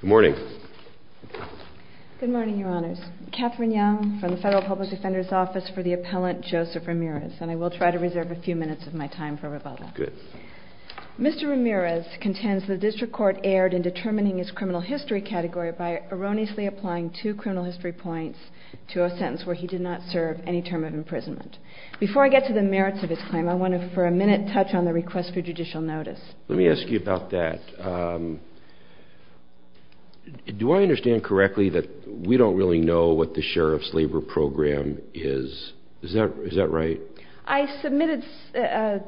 Good morning. Good morning, Your Honors. Katherine Young from the Federal Public Defender's Office for the Appellant Joseph Ramirez, and I will try to reserve a few minutes of my time for rebuttal. Good. Mr. Ramirez contends the District Court erred in determining his criminal history category by erroneously applying two criminal history points to a sentence where he did not serve any term of imprisonment. Before I get to the merits of his claim, I want to for a minute touch on the request for judicial notice. Let me ask you about that. Do I understand correctly that we don't really know what the Sheriff's Labor Program is? Is that right? I submitted,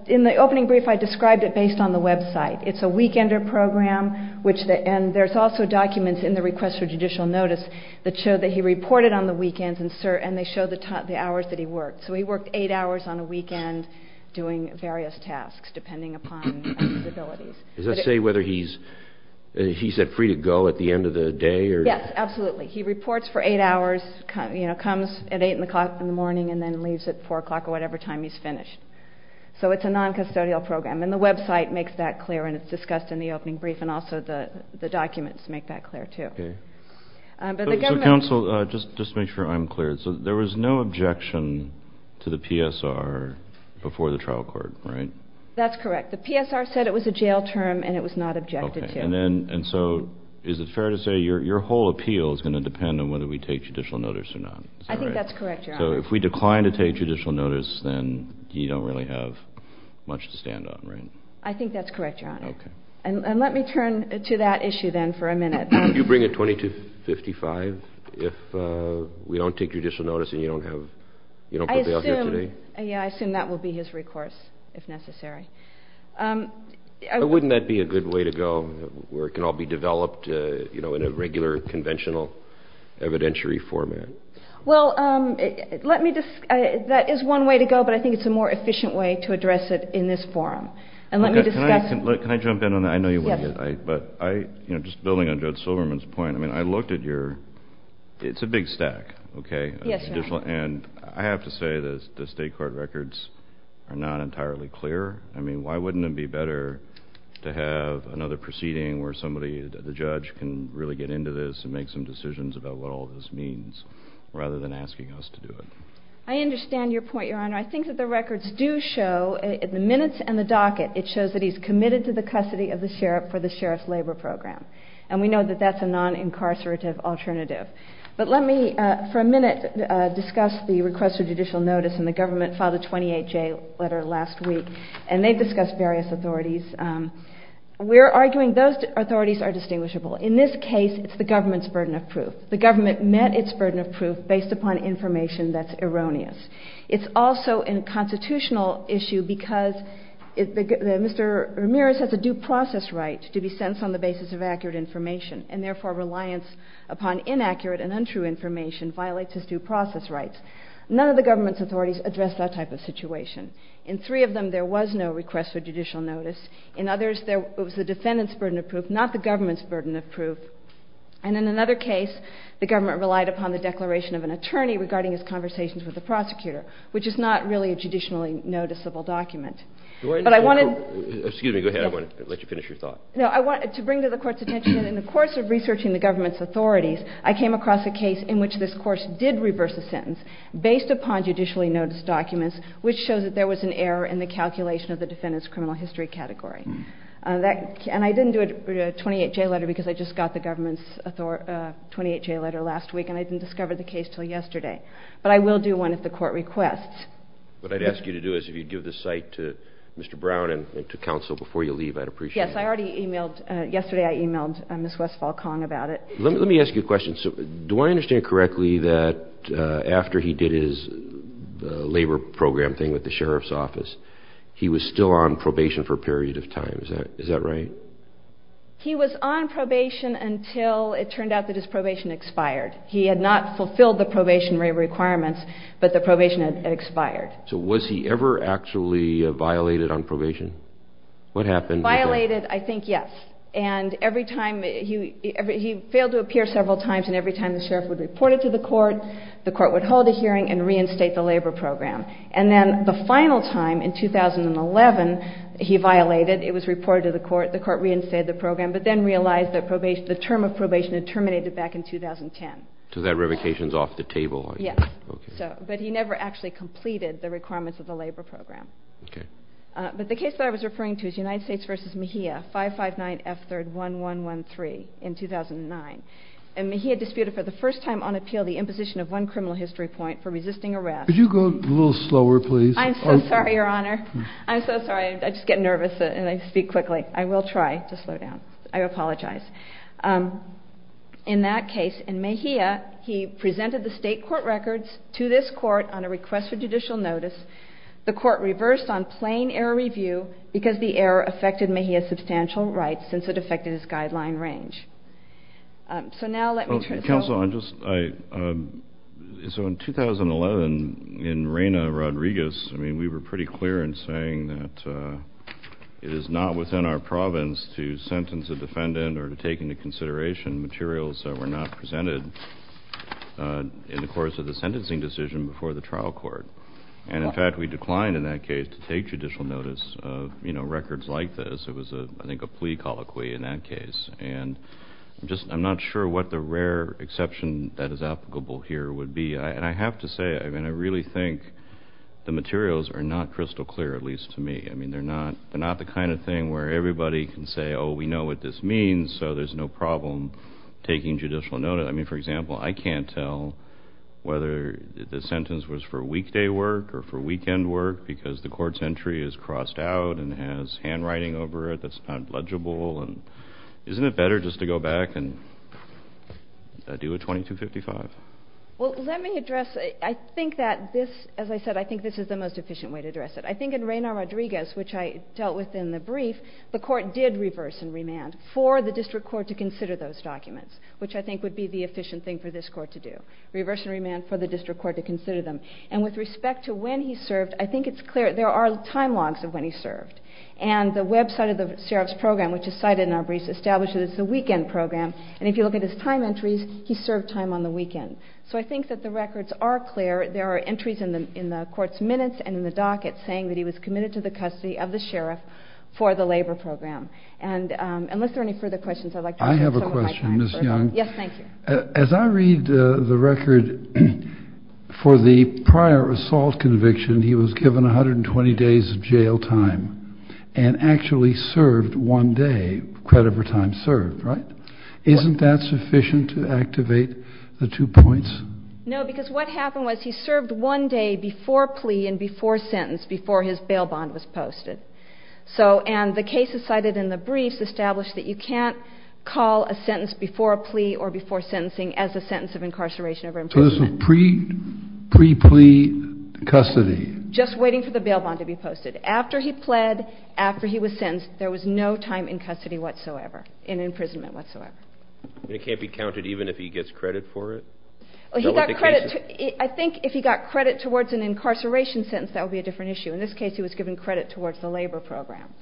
in the opening brief I described it based on the website. It's a weekender program, and there's also documents in the request for judicial notice that show that he reported on the weekends and they show the hours that he worked. So he worked eight hours on a weekend doing various tasks depending upon his abilities. Does that say whether he's free to go at the end of the day? Yes, absolutely. He reports for eight hours, comes at 8 o'clock in the morning, and then leaves at 4 o'clock or whatever time he's finished. So it's a non-custodial program, and the website makes that clear, and it's discussed in the opening brief, and also the documents make that clear, too. So, counsel, just to make sure I'm clear, there was no objection to the PSR before the trial court, right? That's correct. The PSR said it was a jail term and it was not objected to. And so is it fair to say your whole appeal is going to depend on whether we take judicial notice or not? I think that's correct, Your Honor. So if we decline to take judicial notice, then you don't really have much to stand on, right? I think that's correct, Your Honor. Okay. And let me turn to that issue then for a minute. Would you bring it 2255 if we don't take judicial notice and you don't put bail here today? I assume that will be his recourse if necessary. Wouldn't that be a good way to go where it can all be developed, you know, in a regular conventional evidentiary format? Well, let me just – that is one way to go, but I think it's a more efficient way to address it in this forum. And let me discuss – Can I jump in on that? I know you wouldn't, but I – you know, just building on Judge Silverman's point, I mean, I looked at your – it's a big stack, okay? Yes, Your Honor. And I have to say that the state court records are not entirely clear. I mean, why wouldn't it be better to have another proceeding where somebody – the judge can really get into this and make some decisions about what all this means rather than asking us to do it? I understand your point, Your Honor. I think that the records do show – in the minutes and the docket, it shows that he's committed to the custody of the sheriff for the sheriff's labor program. And we know that that's a non-incarcerative alternative. But let me for a minute discuss the request for judicial notice, and the government filed a 28-J letter last week, and they've discussed various authorities. We're arguing those authorities are distinguishable. In this case, it's the government's burden of proof. The government met its burden of proof based upon information that's erroneous. It's also a constitutional issue because Mr. Ramirez has a due process right to be sentenced on the basis of accurate information, and therefore reliance upon inaccurate and untrue information violates his due process rights. None of the government's authorities addressed that type of situation. In three of them, there was no request for judicial notice. In others, it was the defendant's burden of proof, not the government's burden of proof. And in another case, the government relied upon the declaration of an attorney regarding his conversations with the prosecutor, which is not really a judicially noticeable document. But I wanted – Excuse me. Go ahead. I want to let you finish your thought. No, I want to bring to the court's attention that in the course of researching the government's authorities, I came across a case in which this court did reverse a sentence based upon judicially noticed documents, which shows that there was an error in the calculation of the defendant's criminal history category. And I didn't do a 28-J letter because I just got the government's 28-J letter last week, and I didn't discover the case until yesterday. But I will do one if the court requests. What I'd ask you to do is if you'd give this cite to Mr. Brown and to counsel before you leave, I'd appreciate it. Yes, I already emailed – yesterday I emailed Ms. Westfall-Kong about it. Let me ask you a question. Do I understand correctly that after he did his labor program thing with the sheriff's office, he was still on probation for a period of time? Is that right? He was on probation until it turned out that his probation expired. He had not fulfilled the probation requirements, but the probation had expired. So was he ever actually violated on probation? What happened? Violated, I think, yes. And every time – he failed to appear several times, and every time the sheriff would report it to the court, the court would hold a hearing and reinstate the labor program. And then the final time, in 2011, he violated. It was reported to the court. The court reinstated the program, but then realized that the term of probation had terminated back in 2010. So that revocation is off the table. Yes. Okay. But he never actually completed the requirements of the labor program. Okay. But the case that I was referring to is United States v. Mejia, 559 F3rd 1113 in 2009. And Mejia disputed for the first time on appeal the imposition of one criminal history point for resisting arrest. Could you go a little slower, please? I'm so sorry, Your Honor. I'm so sorry. I just get nervous, and I speak quickly. I will try to slow down. I apologize. In that case, in Mejia, he presented the state court records to this court on a request for judicial notice. The court reversed on plain error review because the error affected Mejia's substantial rights since it affected his guideline range. So now let me turn it over. Counsel, I'm just so in 2011, in Reyna Rodriguez, I mean, we were pretty clear in saying that it is not within our province to sentence a defendant or to take into consideration materials that were not presented in the course of the sentencing decision before the trial court. And, in fact, we declined in that case to take judicial notice of, you know, records like this. It was, I think, a plea colloquy in that case. And I'm not sure what the rare exception that is applicable here would be. And I have to say, I mean, I really think the materials are not crystal clear, at least to me. I mean, they're not the kind of thing where everybody can say, oh, we know what this means, so there's no problem taking judicial notice. But, I mean, for example, I can't tell whether the sentence was for weekday work or for weekend work because the court's entry is crossed out and has handwriting over it that's not legible. And isn't it better just to go back and do a 2255? Well, let me address, I think that this, as I said, I think this is the most efficient way to address it. I think in Reyna Rodriguez, which I dealt with in the brief, the court did reverse and remand for the district court to consider those documents, which I think would be the efficient thing for this court to do. Reverse and remand for the district court to consider them. And with respect to when he served, I think it's clear there are time logs of when he served. And the website of the sheriff's program, which is cited in our brief, establishes it as the weekend program. And if you look at his time entries, he served time on the weekend. So I think that the records are clear. There are entries in the court's minutes and in the docket saying that he was committed to the custody of the sheriff for the labor program. And unless there are any further questions, I'd like to take some of my time. I have a question, Ms. Young. Yes, thank you. As I read the record for the prior assault conviction, he was given 120 days of jail time and actually served one day, credit for time served, right? Isn't that sufficient to activate the two points? No, because what happened was he served one day before plea and before sentence, before his bail bond was posted. And the cases cited in the briefs establish that you can't call a sentence before a plea or before sentencing as a sentence of incarceration or imprisonment. So this was pre-plea custody? Just waiting for the bail bond to be posted. After he pled, after he was sentenced, there was no time in custody whatsoever, in imprisonment whatsoever. And it can't be counted even if he gets credit for it? I think if he got credit towards an incarceration sentence, that would be a different issue. In this case, he was given credit towards the labor program.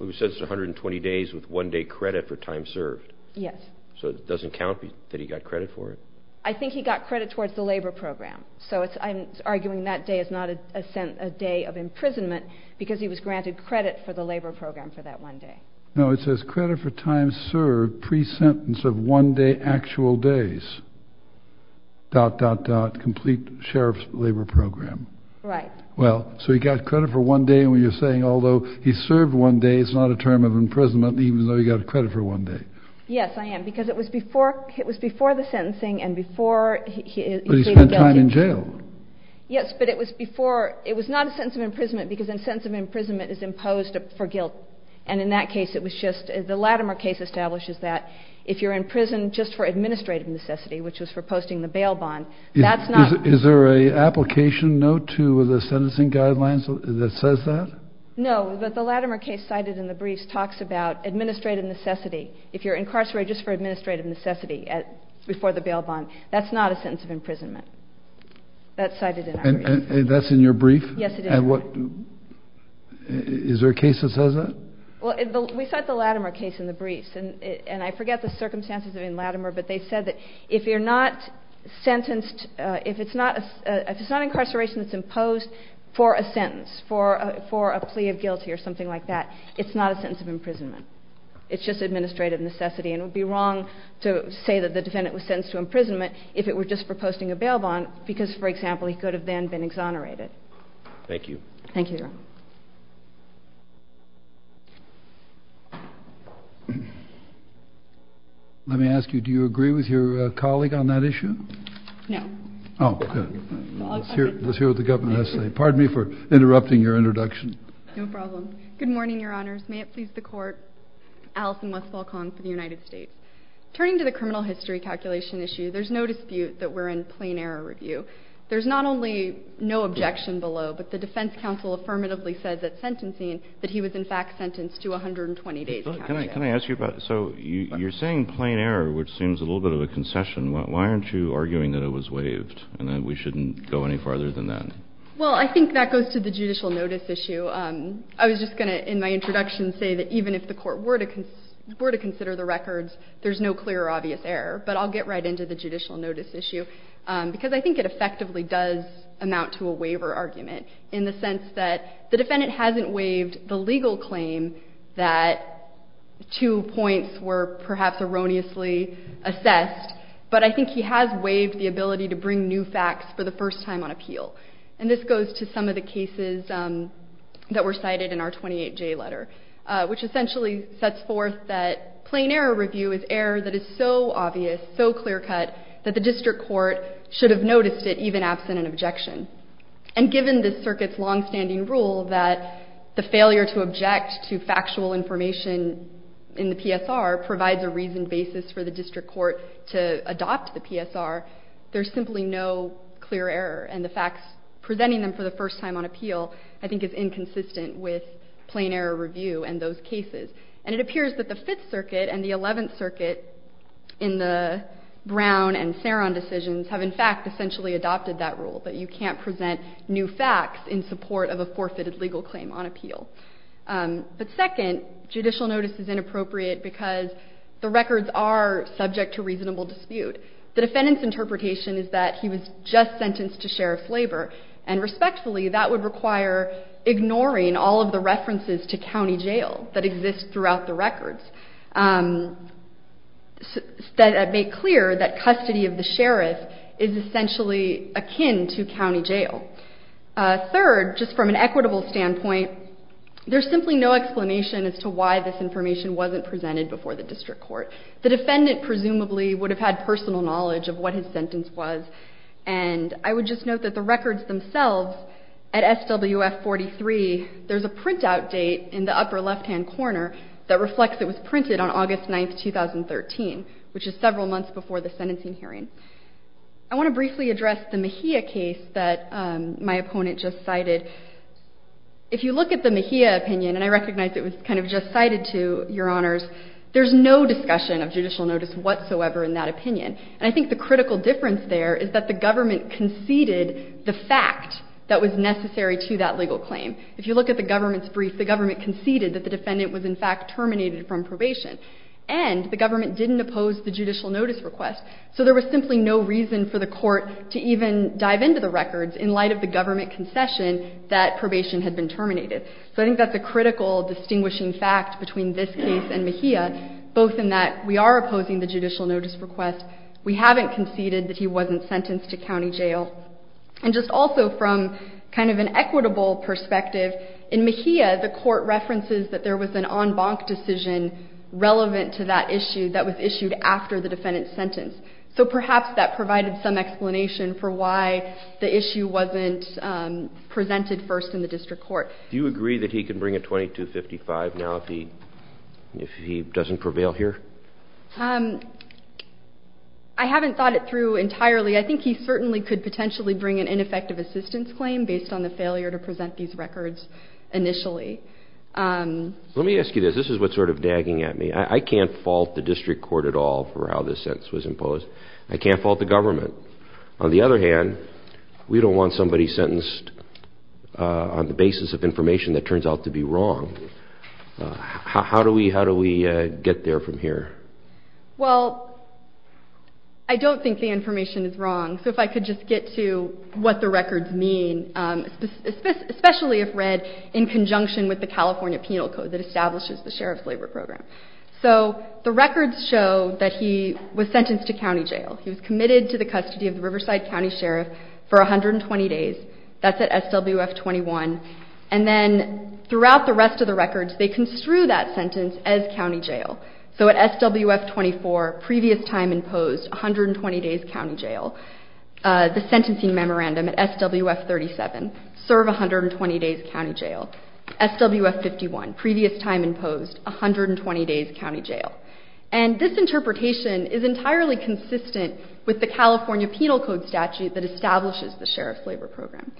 It says 120 days with one day credit for time served. Yes. So it doesn't count that he got credit for it? I think he got credit towards the labor program. So I'm arguing that day is not a day of imprisonment because he was granted credit for the labor program for that one day. No, it says credit for time served pre-sentence of one day actual days, dot, dot, dot, complete sheriff's labor program. Right. Well, so he got credit for one day, and you're saying although he served one day, it's not a term of imprisonment even though he got credit for one day? Yes, I am, because it was before the sentencing and before he pleaded guilty. But he spent time in jail. Yes, but it was before, it was not a sentence of imprisonment because a sentence of imprisonment is imposed for guilt. And in that case, it was just, the Latimer case establishes that if you're in prison just for administrative necessity, which was for posting the bail bond, that's not. Is there an application note to the sentencing guidelines that says that? No, but the Latimer case cited in the briefs talks about administrative necessity. If you're incarcerated just for administrative necessity before the bail bond, that's not a sentence of imprisonment. That's cited in our briefs. That's in your brief? Yes, it is. And what, is there a case that says that? Well, we cite the Latimer case in the briefs, and I forget the circumstances in Latimer, but they said that if you're not sentenced, if it's not incarceration that's imposed for a sentence, for a plea of guilty or something like that, it's not a sentence of imprisonment. It's just administrative necessity, and it would be wrong to say that the defendant was sentenced to imprisonment if it were just for posting a bail bond because, for example, he could have then been exonerated. Thank you. Thank you, Your Honor. Let me ask you, do you agree with your colleague on that issue? No. Oh, good. Let's hear what the government has to say. Pardon me for interrupting your introduction. No problem. Good morning, Your Honors. May it please the Court. Allison Westfall-Kahn for the United States. Turning to the criminal history calculation issue, there's no dispute that we're in plain error review. There's not only no objection below, but the defense counsel affirmatively said that sentencing, that he was in fact sentenced to 120 days. Can I ask you about, so you're saying plain error, which seems a little bit of a concession. Why aren't you arguing that it was waived and that we shouldn't go any farther than that? Well, I think that goes to the judicial notice issue. I was just going to, in my introduction, say that even if the court were to consider the records, there's no clear or obvious error. But I'll get right into the judicial notice issue, because I think it effectively does amount to a waiver argument, in the sense that the defendant hasn't waived the legal claim that two points were perhaps erroneously assessed, but I think he has waived the ability to bring new facts for the first time on appeal. And this goes to some of the cases that were cited in our 28J letter, which essentially sets forth that plain error review is error that is so obvious, so clear-cut, that the district court should have noticed it, even absent an objection. And given this circuit's longstanding rule that the failure to object to factual information in the PSR provides a reasoned basis for the district court to adopt the PSR, there's simply no clear error. And the facts presenting them for the first time on appeal I think is inconsistent with plain error review and those cases. And it appears that the Fifth Circuit and the Eleventh Circuit in the Brown and Saron decisions have, in fact, essentially adopted that rule, that you can't present new facts in support of a forfeited legal claim on appeal. But second, judicial notice is inappropriate because the records are subject to reasonable dispute. The defendant's interpretation is that he was just sentenced to sheriff's labor, and respectfully that would require ignoring all of the references to county jail that exist throughout the records that make clear that custody of the sheriff is essentially akin to county jail. Third, just from an equitable standpoint, there's simply no explanation as to why this information wasn't presented before the district court. The defendant presumably would have had personal knowledge of what his sentence was, and I would just note that the records themselves at SWF 43, there's a printout date in the upper left-hand corner that reflects it was printed on August 9, 2013, which is several months before the sentencing hearing. I want to briefly address the Mejia case that my opponent just cited. If you look at the Mejia opinion, and I recognize it was kind of just cited to your honors, there's no discussion of judicial notice whatsoever in that opinion. And I think the critical difference there is that the government conceded the fact that was necessary to that legal claim. If you look at the government's brief, the government conceded that the defendant was in fact terminated from probation. And the government didn't oppose the judicial notice request, so there was simply no reason for the Court to even dive into the records in light of the government concession that probation had been terminated. So I think that's a critical distinguishing fact between this case and Mejia, both in that we are opposing the judicial notice request. We haven't conceded that he wasn't sentenced to county jail. And just also from kind of an equitable perspective, in Mejia, the Court references that there was an en banc decision relevant to that issue that was issued after the defendant's sentence. So perhaps that provided some explanation for why the issue wasn't presented first in the district court. Do you agree that he can bring a 2255 now if he doesn't prevail here? I haven't thought it through entirely. I think he certainly could potentially bring an ineffective assistance claim based on the failure to present these records initially. Let me ask you this. This is what's sort of dagging at me. I can't fault the district court at all for how this sentence was imposed. I can't fault the government. On the other hand, we don't want somebody sentenced on the basis of information that turns out to be wrong. How do we get there from here? Well, I don't think the information is wrong. So if I could just get to what the records mean, especially if read in conjunction with the California Penal Code that establishes the Sheriff's Labor Program. So the records show that he was sentenced to county jail. He was committed to the custody of the Riverside County Sheriff for 120 days. That's at SWF 21. And then throughout the rest of the records, they construe that sentence as county jail. So at SWF 24, previous time imposed, 120 days county jail. The sentencing memorandum at SWF 37, serve 120 days county jail. SWF 51, previous time imposed, 120 days county jail. And this interpretation is entirely consistent with the California Penal Code statute that establishes the Sheriff's Labor Program.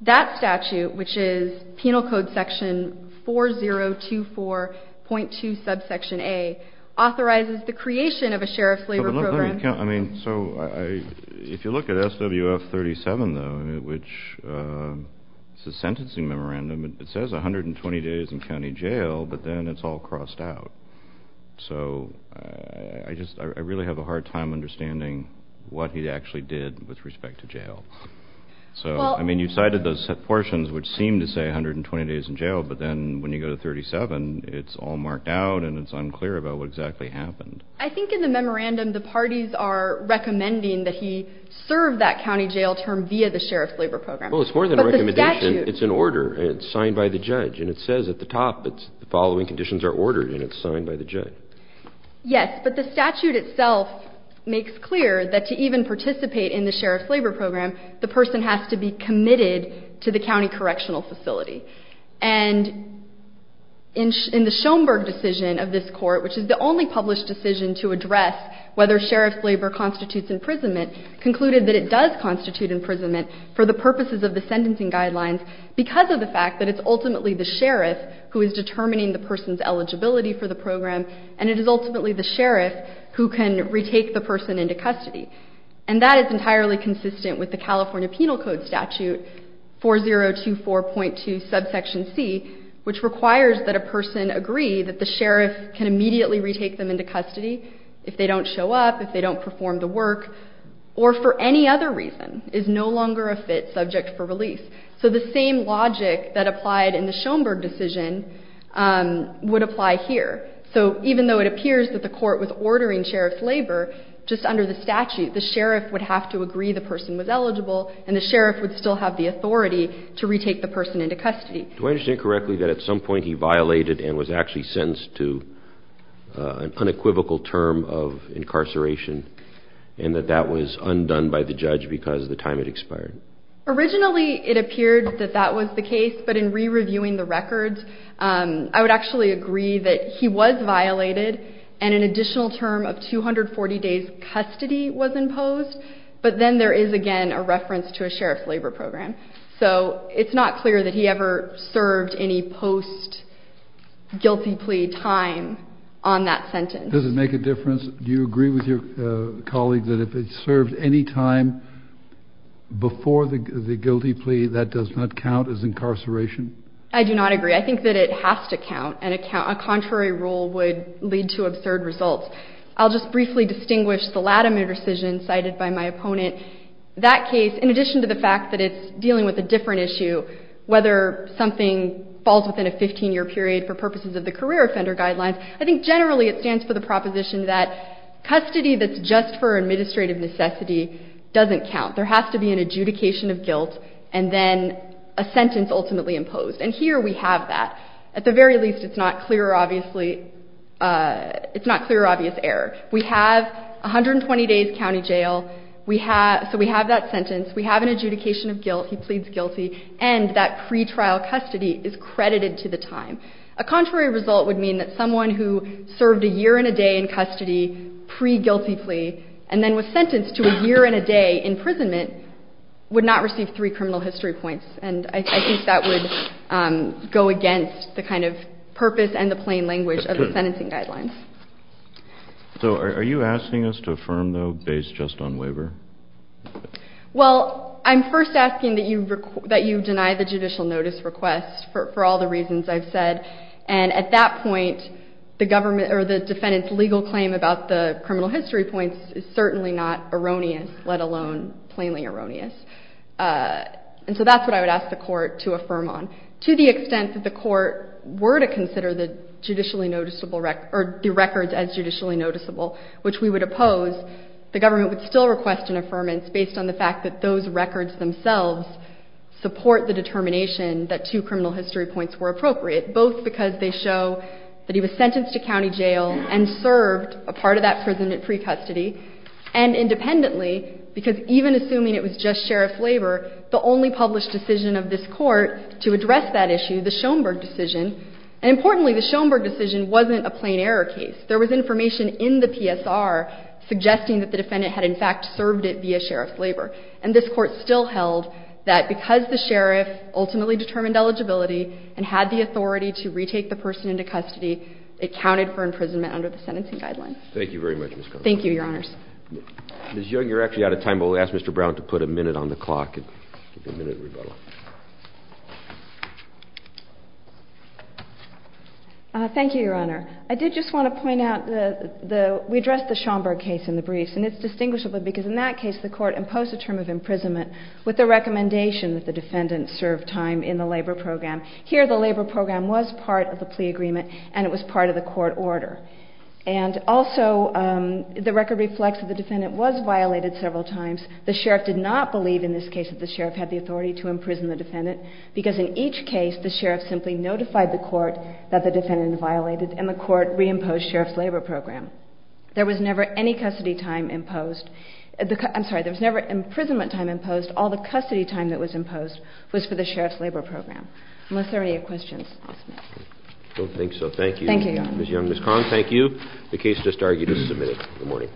That statute, which is Penal Code section 4024.2 subsection A, authorizes the creation of a Sheriff's Labor Program. So if you look at SWF 37, though, which is a sentencing memorandum, it says 120 days in county jail, but then it's all crossed out. So I really have a hard time understanding what he actually did with respect to jail. So, I mean, you cited those portions which seem to say 120 days in jail, but then when you go to 37, it's all marked out and it's unclear about what exactly happened. I think in the memorandum, the parties are recommending that he serve that county jail term via the Sheriff's Labor Program. Well, it's more than a recommendation. It's an order. It's signed by the judge, and it says at the top, the following conditions are ordered and it's signed by the judge. Yes, but the statute itself makes clear that to even participate in the Sheriff's Labor Program, the person has to be committed to the county correctional facility. And in the Schoenberg decision of this court, which is the only published decision to address whether Sheriff's Labor constitutes imprisonment, concluded that it does constitute imprisonment for the purposes of the sentencing guidelines because of the fact that it's ultimately the Sheriff who is determining the person's eligibility for the program, and it is ultimately the Sheriff who can retake the person into custody. And that is entirely consistent with the California Penal Code Statute 4024.2 subsection C, which requires that a person agree that the Sheriff can immediately retake them into custody if they don't show up, if they don't perform the work, or for any other reason is no longer a fit subject for release. So the same logic that applied in the Schoenberg decision would apply here. So even though it appears that the court was ordering Sheriff's Labor, just under the statute, the Sheriff would have to agree the person was eligible and the Sheriff would still have the authority to retake the person into custody. Do I understand correctly that at some point he violated and was actually sentenced to an unequivocal term of incarceration and that that was undone by the judge because the time had expired? Originally it appeared that that was the case, but in re-reviewing the records, I would actually agree that he was violated and an additional term of 240 days' custody was imposed, but then there is again a reference to a Sheriff's Labor program. So it's not clear that he ever served any post-guilty plea time on that sentence. Does it make a difference? Do you agree with your colleague that if it served any time before the guilty plea, that does not count as incarceration? I do not agree. I think that it has to count, and a contrary rule would lead to absurd results. I'll just briefly distinguish the Latimer decision cited by my opponent. That case, in addition to the fact that it's dealing with a different issue, whether something falls within a 15-year period for purposes of the career offender guidelines, I think generally it stands for the proposition that custody that's just for administrative necessity doesn't count. There has to be an adjudication of guilt and then a sentence ultimately imposed, and here we have that. At the very least, it's not clear or obvious error. We have 120 days' county jail, so we have that sentence. We have an adjudication of guilt. He pleads guilty, and that pretrial custody is credited to the time. A contrary result would mean that someone who served a year and a day in custody pre-guilty plea and then was sentenced to a year and a day imprisonment would not receive three criminal history points, and I think that would go against the kind of purpose and the plain language of the sentencing guidelines. So are you asking us to affirm, though, based just on waiver? Well, I'm first asking that you deny the judicial notice request for all the reasons I've said, and at that point the defendant's legal claim about the criminal history points is certainly not erroneous, let alone plainly erroneous, and so that's what I would ask the court to affirm on. To the extent that the court were to consider the records as judicially noticeable, which we would oppose, the government would still request an affirmance based on the fact that those records themselves support the determination that two criminal history points were appropriate, both because they show that he was sentenced to county jail and served a part of that prison at pre-custody, and independently, because even assuming it was just sheriff's labor, the only published decision of this court to address that issue, the Schoenberg decision, and importantly, the Schoenberg decision wasn't a plain error case. There was information in the PSR suggesting that the defendant had, in fact, served it via sheriff's labor, and this court still held that because the sheriff ultimately determined eligibility and had the authority to retake the person into custody, it counted for imprisonment under the sentencing guidelines. Thank you very much, Ms. Connell. Thank you, Your Honors. Ms. Young, you're actually out of time, but we'll ask Mr. Brown to put a minute on the clock. Give you a minute, Rebella. Thank you, Your Honor. I did just want to point out we addressed the Schoenberg case in the briefs, and it's distinguishable because in that case the court imposed a term of imprisonment with the recommendation that the defendant serve time in the labor program. Here the labor program was part of the plea agreement, and it was part of the court order. And also the record reflects that the defendant was violated several times. The sheriff did not believe in this case that the sheriff had the authority to imprison the defendant because in each case the sheriff simply notified the court that the defendant had violated, and the court reimposed sheriff's labor program. There was never any custody time imposed. I'm sorry, there was never imprisonment time imposed. All the custody time that was imposed was for the sheriff's labor program. Unless there are any questions, I'll stop. I don't think so. Thank you. Thank you, Your Honor. Ms. Young, Ms. Connell, thank you. The case just argued is submitted. Good morning.